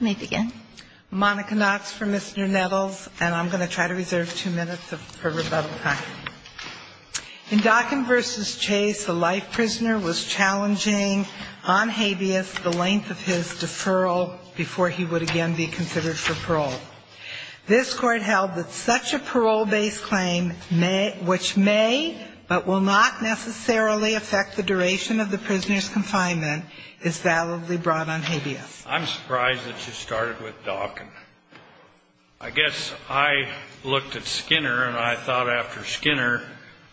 In Dockin v. Chase, the life prisoner was challenging on habeas the length of his deferral before he would again be considered for parole. This Court held that such a parole-based claim which may but will not necessarily affect the duration of the prisoner's confinement is validly brought on habeas. I'm surprised that you started with Dockin. I guess I looked at Skinner and I thought after Skinner,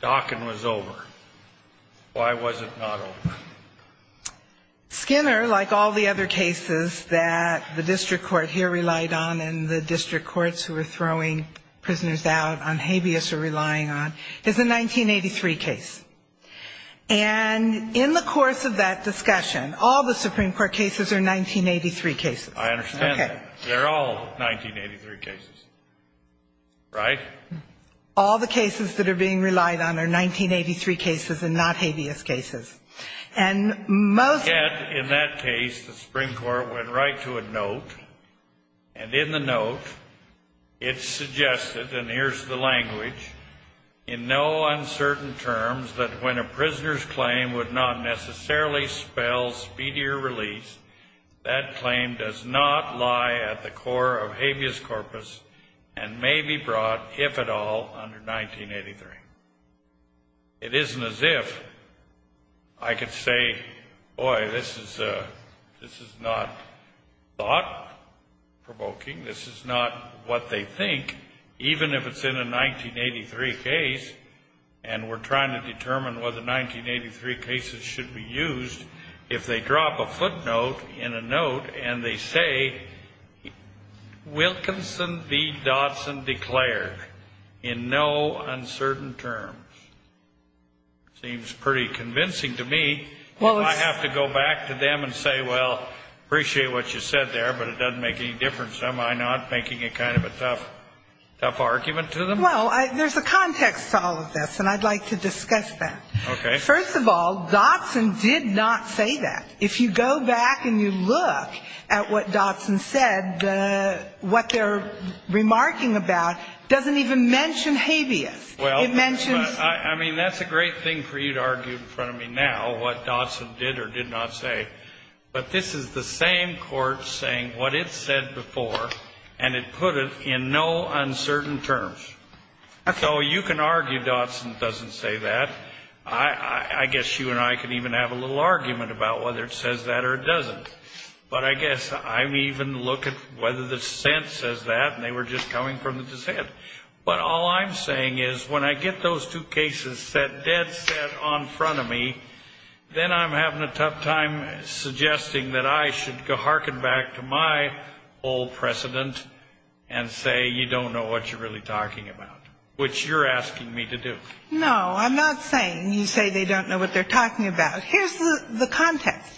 Dockin was over. Why was it not over? Skinner, like all the other cases that the District Court here relied on and the District Courts who were throwing prisoners out on habeas or relying on, is a 1983 case. And in the course of that discussion, all the Supreme Court cases are 1983 cases. I understand that. They're all 1983 cases, right? All the cases that are being relied on are 1983 cases and not habeas cases. And most... went right to a note, and in the note it suggested, and here's the language, in no uncertain terms that when a prisoner's claim would not necessarily spell speedier release, that claim does not lie at the core of habeas corpus and may be brought, if at all, under 1983. It isn't as if I could say, boy, this is not thought-provoking, this is not what they think, even if it's in a 1983 case and we're trying to determine whether 1983 cases should be used, if they drop a footnote in a note and they say, Wilkinson v. Dodson declared in no uncertain terms. Seems pretty convincing to me. Well, it's... If I have to go back to them and say, well, appreciate what you said there, but it doesn't make any difference, am I not making a kind of a tough argument to them? Well, there's a context to all of this, and I'd like to discuss that. Okay. First of all, Dodson did not say that. If you go back and you look at what Dodson said, what they're remarking about doesn't even mention habeas. It mentions... I mean, that's a great thing for you to argue in front of me now, what Dodson did or did not say. But this is the same court saying what it said before, and it put it in no uncertain terms. Okay. So you can argue Dodson doesn't say that. I guess you and I can even have a little argument about whether it says that or it doesn't. But I guess I'm even looking whether the sentence says that, and they were just coming from the dissent. But all I'm saying is when I get those two cases set dead set on front of me, then I'm having a tough time suggesting that I should harken back to my old precedent and say, you don't know what you're really talking about, which you're asking me to do. No, I'm not saying you say they don't know what they're talking about. Here's the context.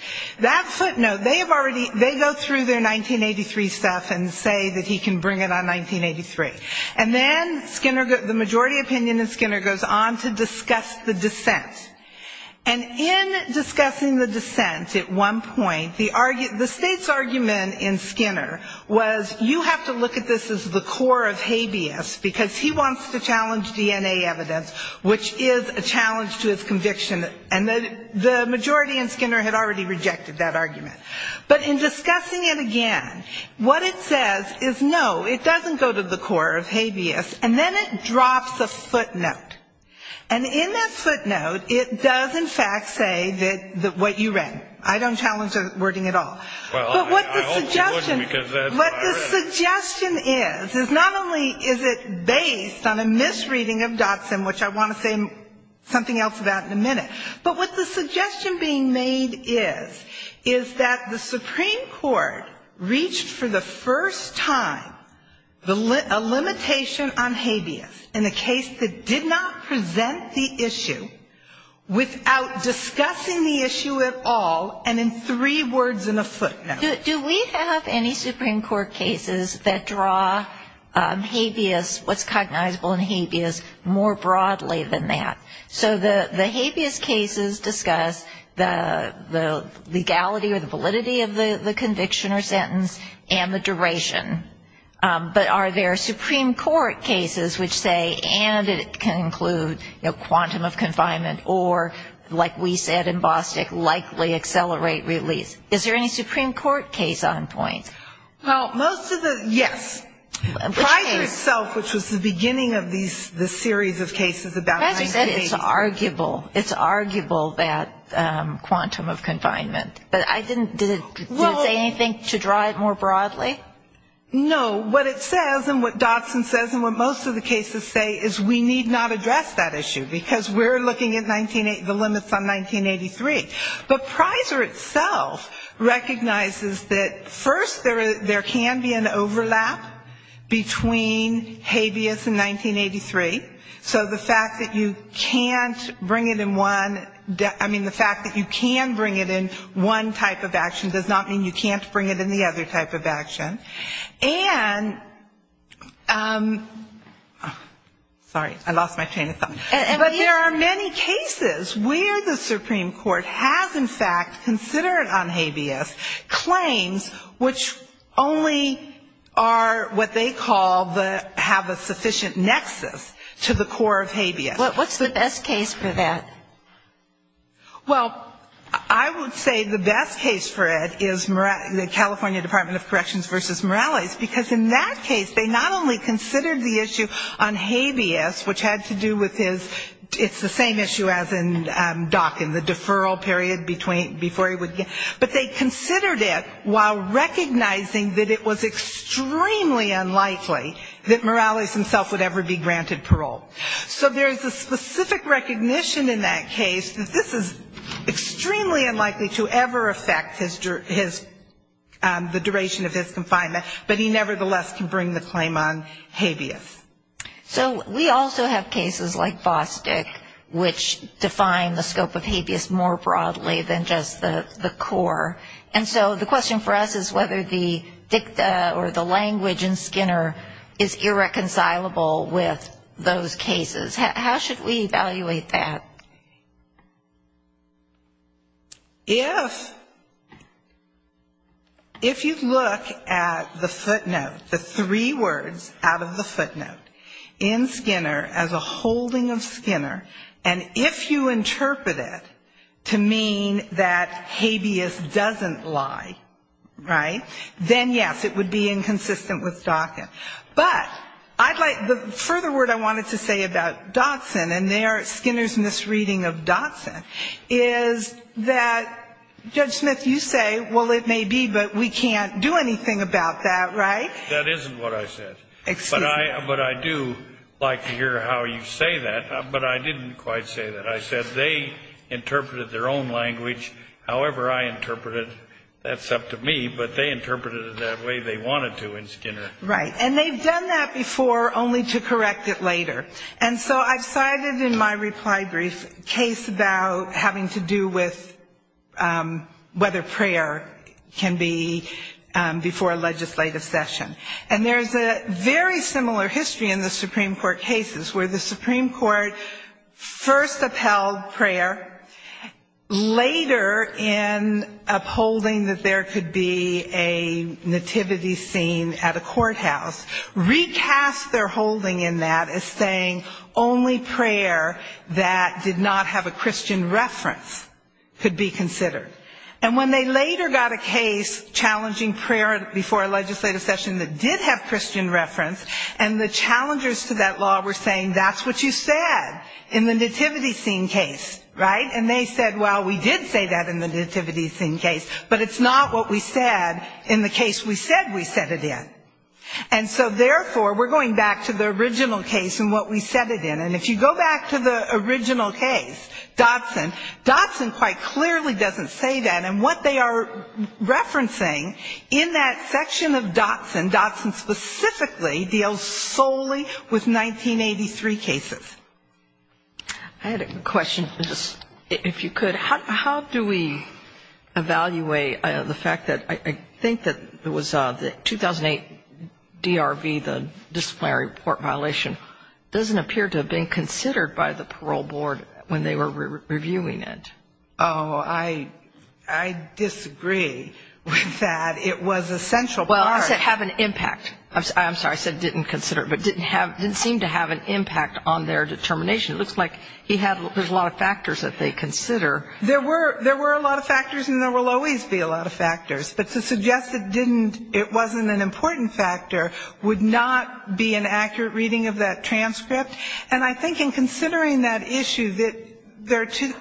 That footnote, they have already, they go through their 1983 stuff and say that he can bring it on 1983. And then Skinner, the majority opinion in Skinner goes on to discuss the dissent. And in discussing the dissent at one point, the state's argument in Skinner was you have to look at this as the core of which is a challenge to his conviction. And the majority in Skinner had already rejected that argument. But in discussing it again, what it says is no, it doesn't go to the core of habeas. And then it drops a footnote. And in that footnote, it does in fact say that what you read. I don't challenge the wording at all. But what the suggestion is, is not only is it based on a misreading of Dotson, which I want to say something else about in a minute, but what the suggestion being made is, is that the Supreme Court reached for the first time a limitation on habeas in a case that did not present the issue without discussing the issue at all and in three words in a footnote. Do we have any Supreme Court cases that draw habeas, what's cognizable in habeas, more broadly than that? So the habeas cases discuss the legality or the validity of the conviction or sentence and the duration. But are there Supreme Court cases which say, and it can include quantum of confinement or like we said in Bostick, likely accelerate release. Is there any Supreme Court case on point? Well, most of the, yes. Pride Yourself, which was the beginning of the series of cases about habeas. It's arguable, it's arguable that quantum of confinement. But I didn't, did it say anything to draw it more broadly? No. What it says and what Dotson says and what most of the cases say is we need not address that issue because we're looking at the limits on 1983. But Prizer itself recognizes that first there can be an overlap between habeas and 1983. So the fact that you can't bring it in one, I mean the fact that you can bring it in one type of action does not mean you can't bring it in the other type of action. But there are many cases where the Supreme Court has in fact considered on habeas claims which only are what they call the, have a sufficient nexus to the core of habeas. What's the best case for that? Well, I would say the best case for it is the California Department of Corrections versus Morales because in that case they not only considered the issue on habeas which had to do with his, it's the same issue as in Dawkins, the deferral period before he would get, but they considered it while recognizing that it was extremely unlikely that Morales himself would ever be granted parole. So there's a specific recognition in that case that this is extremely unlikely to ever affect his, the duration of his confinement, but he nevertheless can bring the claim on habeas. So we also have cases like Bostick which define the scope of habeas more broadly than just the core. And so the question for us is whether the dicta or the language in Skinner is irreconcilable with those cases. How should we evaluate that? If you look at the footnote, the three words out of the footnote in Skinner as a holding of Skinner, and if you interpret it to mean that habeas doesn't lie, right, then, yes, it would be inconsistent with Dawkins. But I'd like, the further word I wanted to say about Dodson and their Skinner's misreading of habeas, their misreading of Dodson, is that, Judge Smith, you say, well, it may be, but we can't do anything about that, right? That isn't what I said. Excuse me. But I do like to hear how you say that, but I didn't quite say that. I said they interpreted their own language however I interpret it. That's up to me, but they interpreted it that way they wanted to in Skinner. Right, and they've done that before, only to correct it later. And so I've cited in my reply brief a case about having to do with whether prayer can be before a legislative session. And there's a very similar history in the Supreme Court cases, where the Supreme Court first upheld prayer, later in upholding that there could be a nativity scene at a courthouse, recast their holding in that as saying only prayer that did not have a Christian reference could be considered. And when they later got a case challenging prayer before a legislative session that did have Christian reference, and the challengers to that law were saying that's what you said in the nativity scene case, right? And they said, well, we did say that in the nativity scene case, but it's not what we said in the case we said we set it in. And so therefore, we're going back to the original case and what we set it in. And if you go back to the original case, Dotson, Dotson quite clearly doesn't say that, and what they are referencing in that section of Dotson, Dotson specifically deals solely with 1983 cases. I had a question, if you could. How do we evaluate the fact that I think that it was the 2008 DRV, the disciplinary report violation, doesn't appear to have been considered by the parole board when they were reviewing it? Oh, I disagree with that. It was a central part. Well, I said have an impact. I'm sorry, I said didn't consider it. But didn't seem to have an impact on their determination. It looks like he had, there's a lot of factors that they consider. There were a lot of factors and there will always be a lot of factors. But to suggest it didn't, it wasn't an important factor would not be an accurate reading of that transcript. And I think in considering that issue that there are two,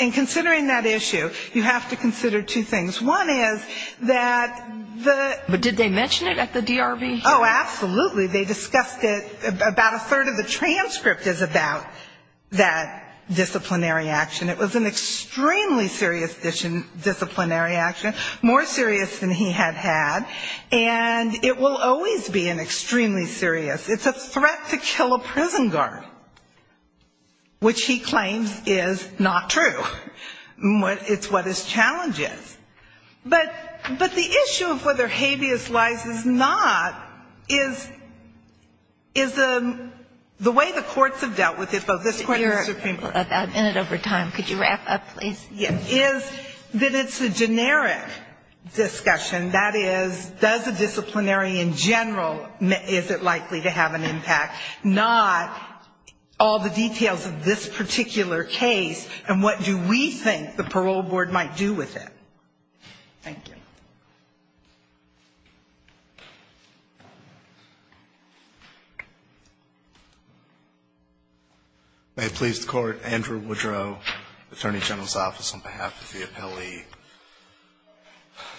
in considering that issue, you have to consider two things. One is that the But did they mention it at the DRV? Oh, absolutely, they discussed it, about a third of the transcript is about that disciplinary action. It was an extremely serious disciplinary action, more serious than he had had, and it will always be an extremely serious. It's a threat to kill a prison guard, which he claims is not true. It's what his challenge is. But the issue of whether habeas lies is not, is the way the courts have dealt with it, both this court and the Supreme Court. A minute over time, could you wrap up, please? Is that it's a generic discussion, that is, does the disciplinary in general, is it likely to have an impact? Not all the details of this particular case and what do we think the parole board might do with it. Thank you. May it please the Court, Andrew Woodrow, Attorney General's Office, on behalf of the appellee.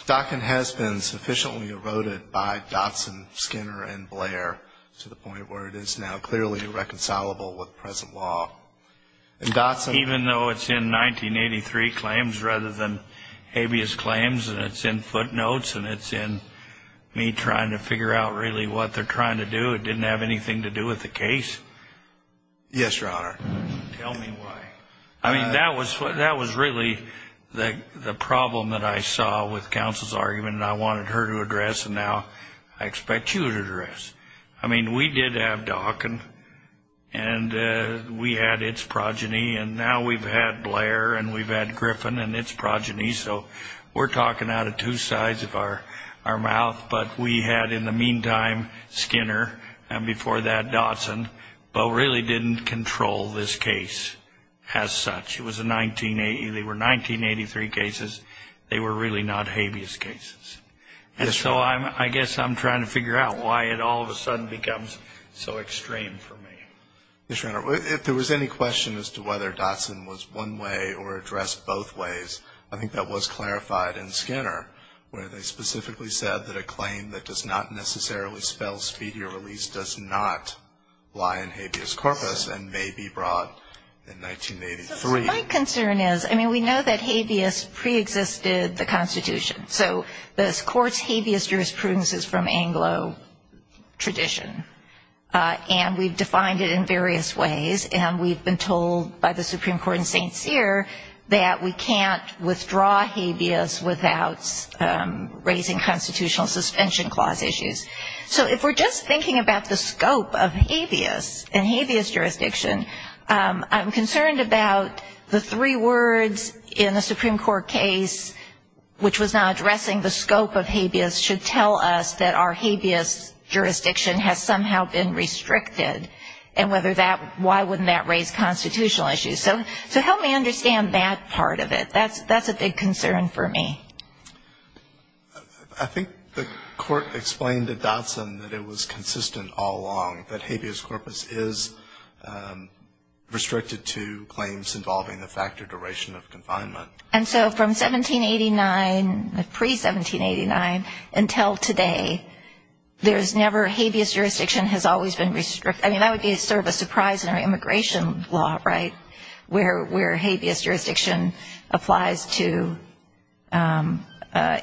Dockin has been sufficiently eroded by Dotson, Skinner and Blair to the point where it is now clearly irreconcilable with present law. Even though it's in 1983 claims rather than habeas claims and it's in footnotes and it's in me trying to figure out really what they're trying to do, it didn't have anything to do with the case? Yes, Your Honor. Tell me why. I mean, that was really the problem that I saw with counsel's argument and I wanted her to address and now I expect you to address. I mean, we did have Dockin and we had its progeny and now we've had Blair and we've had Griffin and its progeny. So we're talking out of two sides of our mouth. But we had in the meantime Skinner and before that Dotson, but really didn't control this case as such. It was a 1980, they were 1983 cases. They were really not habeas cases. And so I guess I'm trying to figure out why it all of a sudden becomes so extreme for me. Yes, Your Honor. If there was any question as to whether Dotson was one way or addressed both ways, I think that was clarified in Skinner where they specifically said that a claim that does not necessarily spell speedier release does not lie in habeas corpus and may be brought in 1983. My concern is, I mean, we know that habeas preexisted the Constitution. So this court's habeas jurisprudence is from Anglo tradition. And we've defined it in various ways. And we've been told by the Supreme Court in St. Cyr that we can't withdraw habeas without raising constitutional suspension clause issues. So if we're just thinking about the scope of habeas and habeas jurisdiction, I'm concerned about the three words in a Supreme Court case which was not addressing the scope of habeas should tell us that our habeas jurisdiction has somehow been restricted. And whether that, why wouldn't that raise constitutional issues. So help me understand that part of it. That's a big concern for me. I think the court explained to Dotson that it was consistent all along that habeas corpus is restricted to claims involving the factor duration of confinement. And so from 1789, pre-1789 until today, there's never habeas jurisdiction has always been restricted. I mean, that would be sort of a surprise in our immigration law, right, where habeas jurisdiction applies. It applies to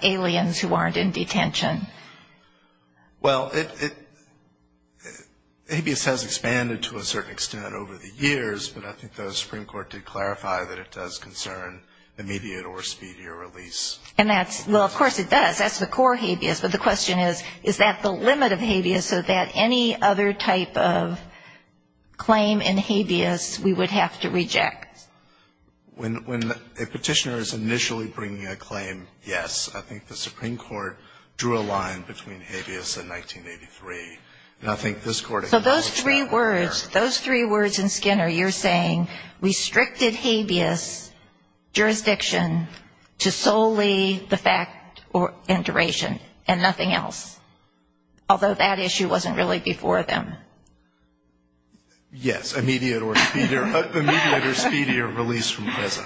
aliens who aren't in detention. Well, it, habeas has expanded to a certain extent over the years, but I think the Supreme Court did clarify that it does concern immediate or speedier release. And that's, well, of course it does. That's the core habeas, but the question is, is that the limit of habeas so that any other type of claim in habeas we would have to reject? When a petitioner is initially bringing a claim, yes, I think the Supreme Court drew a line between habeas and 1983. And I think this Court acknowledged that. So those three words, those three words in Skinner, you're saying restricted habeas jurisdiction to solely the fact or duration and nothing else, although that issue wasn't really before them? Yes, immediate or speedier release from prison.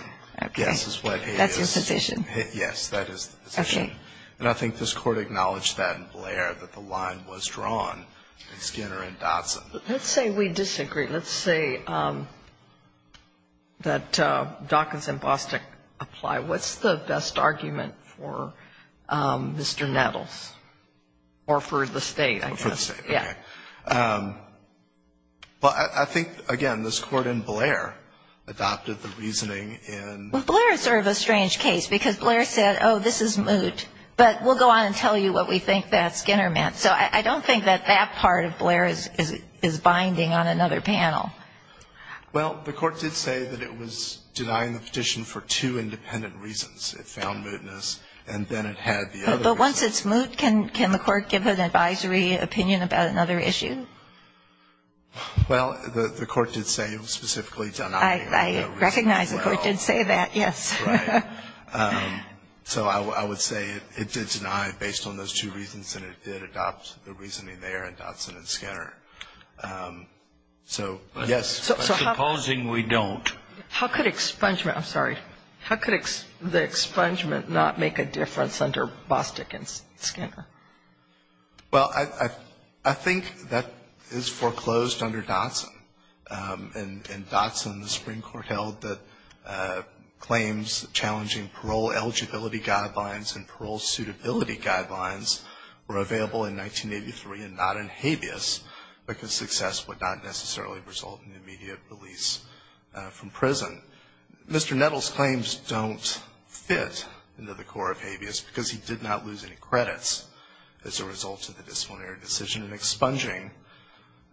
Yes, is what habeas is. That's your position? Yes, that is the position. Okay. And I think this Court acknowledged that in Blair, that the line was drawn in Skinner and Dotson. Let's say we disagree. Let's say that Dawkins and Bostic apply. What's the best argument for Mr. Nettles or for the State, I guess? For the State, okay. Yeah. But I think, again, this Court in Blair adopted the reasoning in. Well, Blair is sort of a strange case, because Blair said, oh, this is moot, but we'll go on and tell you what we think that Skinner meant. So I don't think that that part of Blair is binding on another panel. Well, the Court did say that it was denying the petition for two independent reasons. It found mootness, and then it had the other reason. But once it's moot, can the Court give an advisory opinion about another issue? Well, the Court did say specifically it's denying. I recognize the Court did say that, yes. Right. So I would say it did deny based on those two reasons, and it did adopt the reasoning there in Dotson and Skinner. So, yes. Supposing we don't. How could expungement, I'm sorry, how could the expungement not make a difference under Bostick and Skinner? Well, I think that is foreclosed under Dotson. In Dotson, the Supreme Court held that claims challenging parole eligibility guidelines and parole suitability guidelines were available in 1983 and not in habeas, because success would not necessarily result in immediate release from prison. Mr. Nettles' claims don't fit into the core of habeas, because he did not lose any credits as a result of the disciplinary decision, and expunging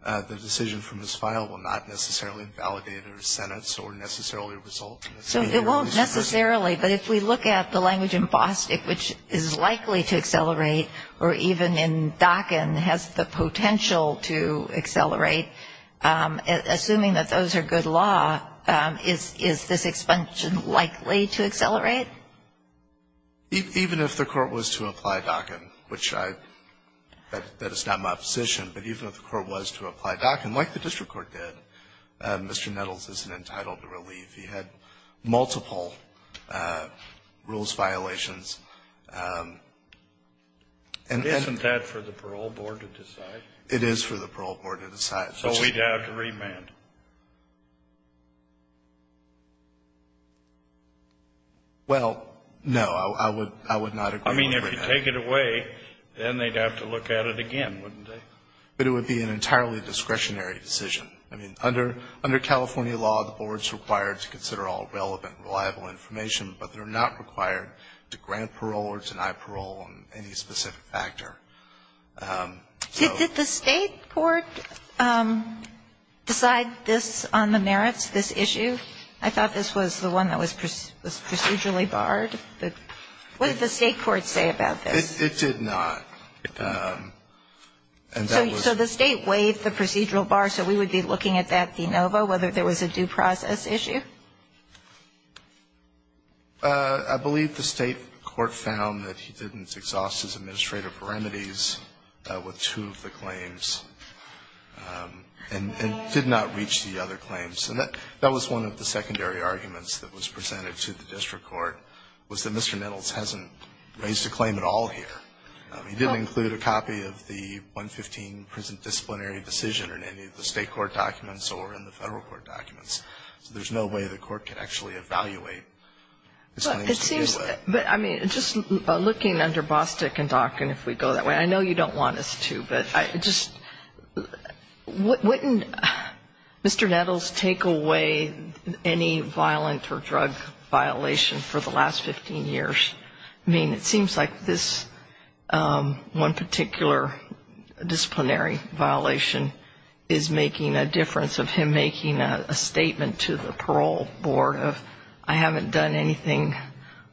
the decision from his file will not necessarily invalidate his sentence or necessarily result in his immediate release. So it won't necessarily. But if we look at the language in Bostick, which is likely to accelerate, or even in Dockin has the potential to accelerate, assuming that those are good law, is this expungement likely to accelerate? Even if the Court was to apply Dockin, which I — that is not my position, but even if the Court was to apply Dockin, like the district court did, Mr. Nettles isn't entitled to relief. He had multiple rules violations. And then — Isn't that for the parole board to decide? It is for the parole board to decide. So we'd have to remand? Well, no. I would not agree with remand. I mean, if you take it away, then they'd have to look at it again, wouldn't they? But it would be an entirely discretionary decision. I mean, under California law, the board's required to consider all relevant, reliable information, but they're not required to grant parole or deny parole on any specific factor. So — Did the State court decide this on the merits, this issue? I thought this was the one that was procedurally barred. What did the State court say about this? It did not. And that was — So the State waived the procedural bar, so we would be looking at that de novo, whether there was a due process issue? I believe the State court found that he didn't exhaust his administrative remedies with two of the claims and did not reach the other claims. And that was one of the secondary arguments that was presented to the district court, was that Mr. Nettles hasn't raised a claim at all here. He didn't include a copy of the 115 prison disciplinary decision in any of the State court documents or in the Federal court documents. So there's no way the court can actually evaluate his claims in either way. But it seems — but, I mean, just looking under Bostick and Dawkin, if we go that way, I know you don't want us to, but I just — wouldn't Mr. Nettles take away any violent or drug violation for the last 15 years? I mean, it seems like this one particular disciplinary violation is making a difference of him making a statement to the parole board of, I haven't done anything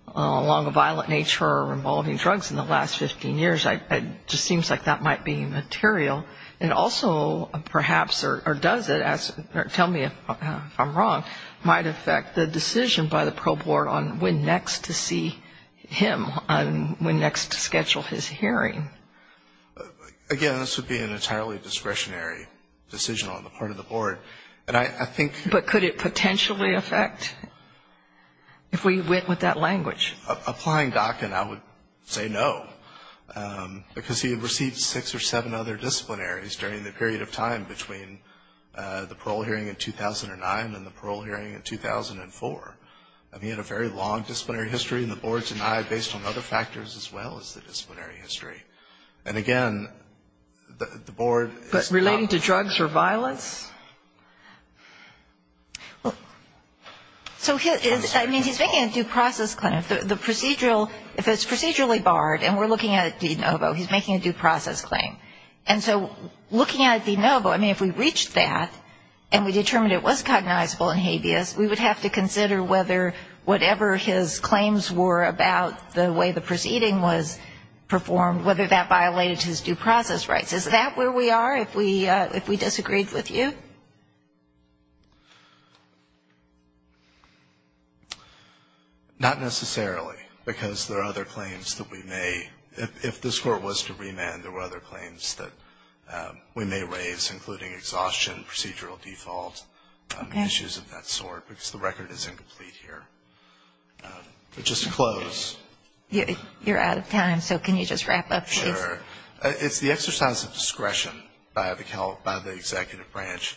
along a violent nature or involving drugs in the last 15 years. It just seems like that might be material. And also, perhaps, or does it, tell me if I'm wrong, might affect the decision by him on when next to schedule his hearing? Again, this would be an entirely discretionary decision on the part of the board. And I think — But could it potentially affect if we went with that language? Applying Dawkin, I would say no, because he had received six or seven other disciplinaries during the period of time between the parole hearing in 2009 and the parole hearing in 2004. I mean, he had a very long disciplinary history, and the board denied based on other factors as well as the disciplinary history. And again, the board is not — But relating to drugs or violence? Well, so his — I mean, he's making a due process claim. The procedural — if it's procedurally barred, and we're looking at De Novo, he's making a due process claim. And so looking at De Novo, I mean, if we reached that and we determined it was recognizable and habeas, we would have to consider whether whatever his claims were about the way the proceeding was performed, whether that violated his due process rights. Is that where we are if we disagreed with you? Not necessarily, because there are other claims that we may — if this Court was to remand, there were other claims that we may raise, including exhaustion, procedural default, issues of that sort, because the record is incomplete here. But just to close — You're out of time, so can you just wrap up, please? Sure. It's the exercise of discretion by the Executive Branch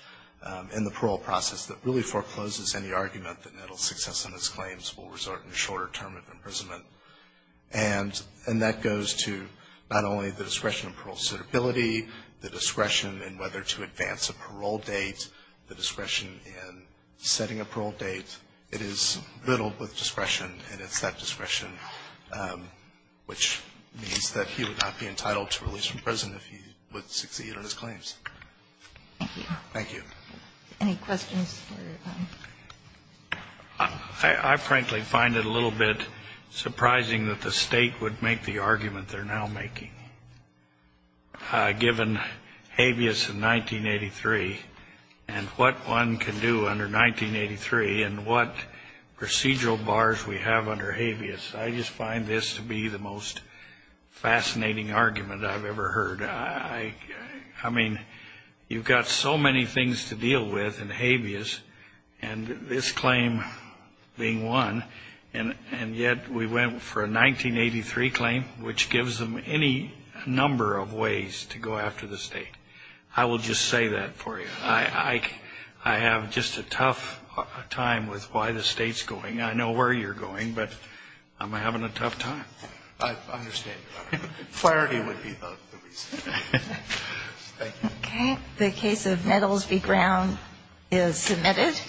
in the parole process that really forecloses any argument that Nettle's success in his claims will resort in a shorter term of imprisonment. And that goes to not only the discretion of parole suitability, the discretion in whether to advance a parole date, the discretion in setting a parole date. It is riddled with discretion, and it's that discretion which means that he would not be entitled to release from prison if he would succeed on his claims. Thank you. Thank you. Any questions? I frankly find it a little bit surprising that the State would make the argument they're now making. Given habeas in 1983 and what one can do under 1983 and what procedural bars we have under habeas, I just find this to be the most fascinating argument I've ever heard. I mean, you've got so many things to deal with in habeas, and this claim being one, and yet we went for a 1983 claim, which gives them any number of ways to go after the State. I will just say that for you. I have just a tough time with why the State's going. I know where you're going, but I'm having a tough time. I understand. Clarity would be the reason. Thank you. Okay. The case of Nettles v. Brown is submitted.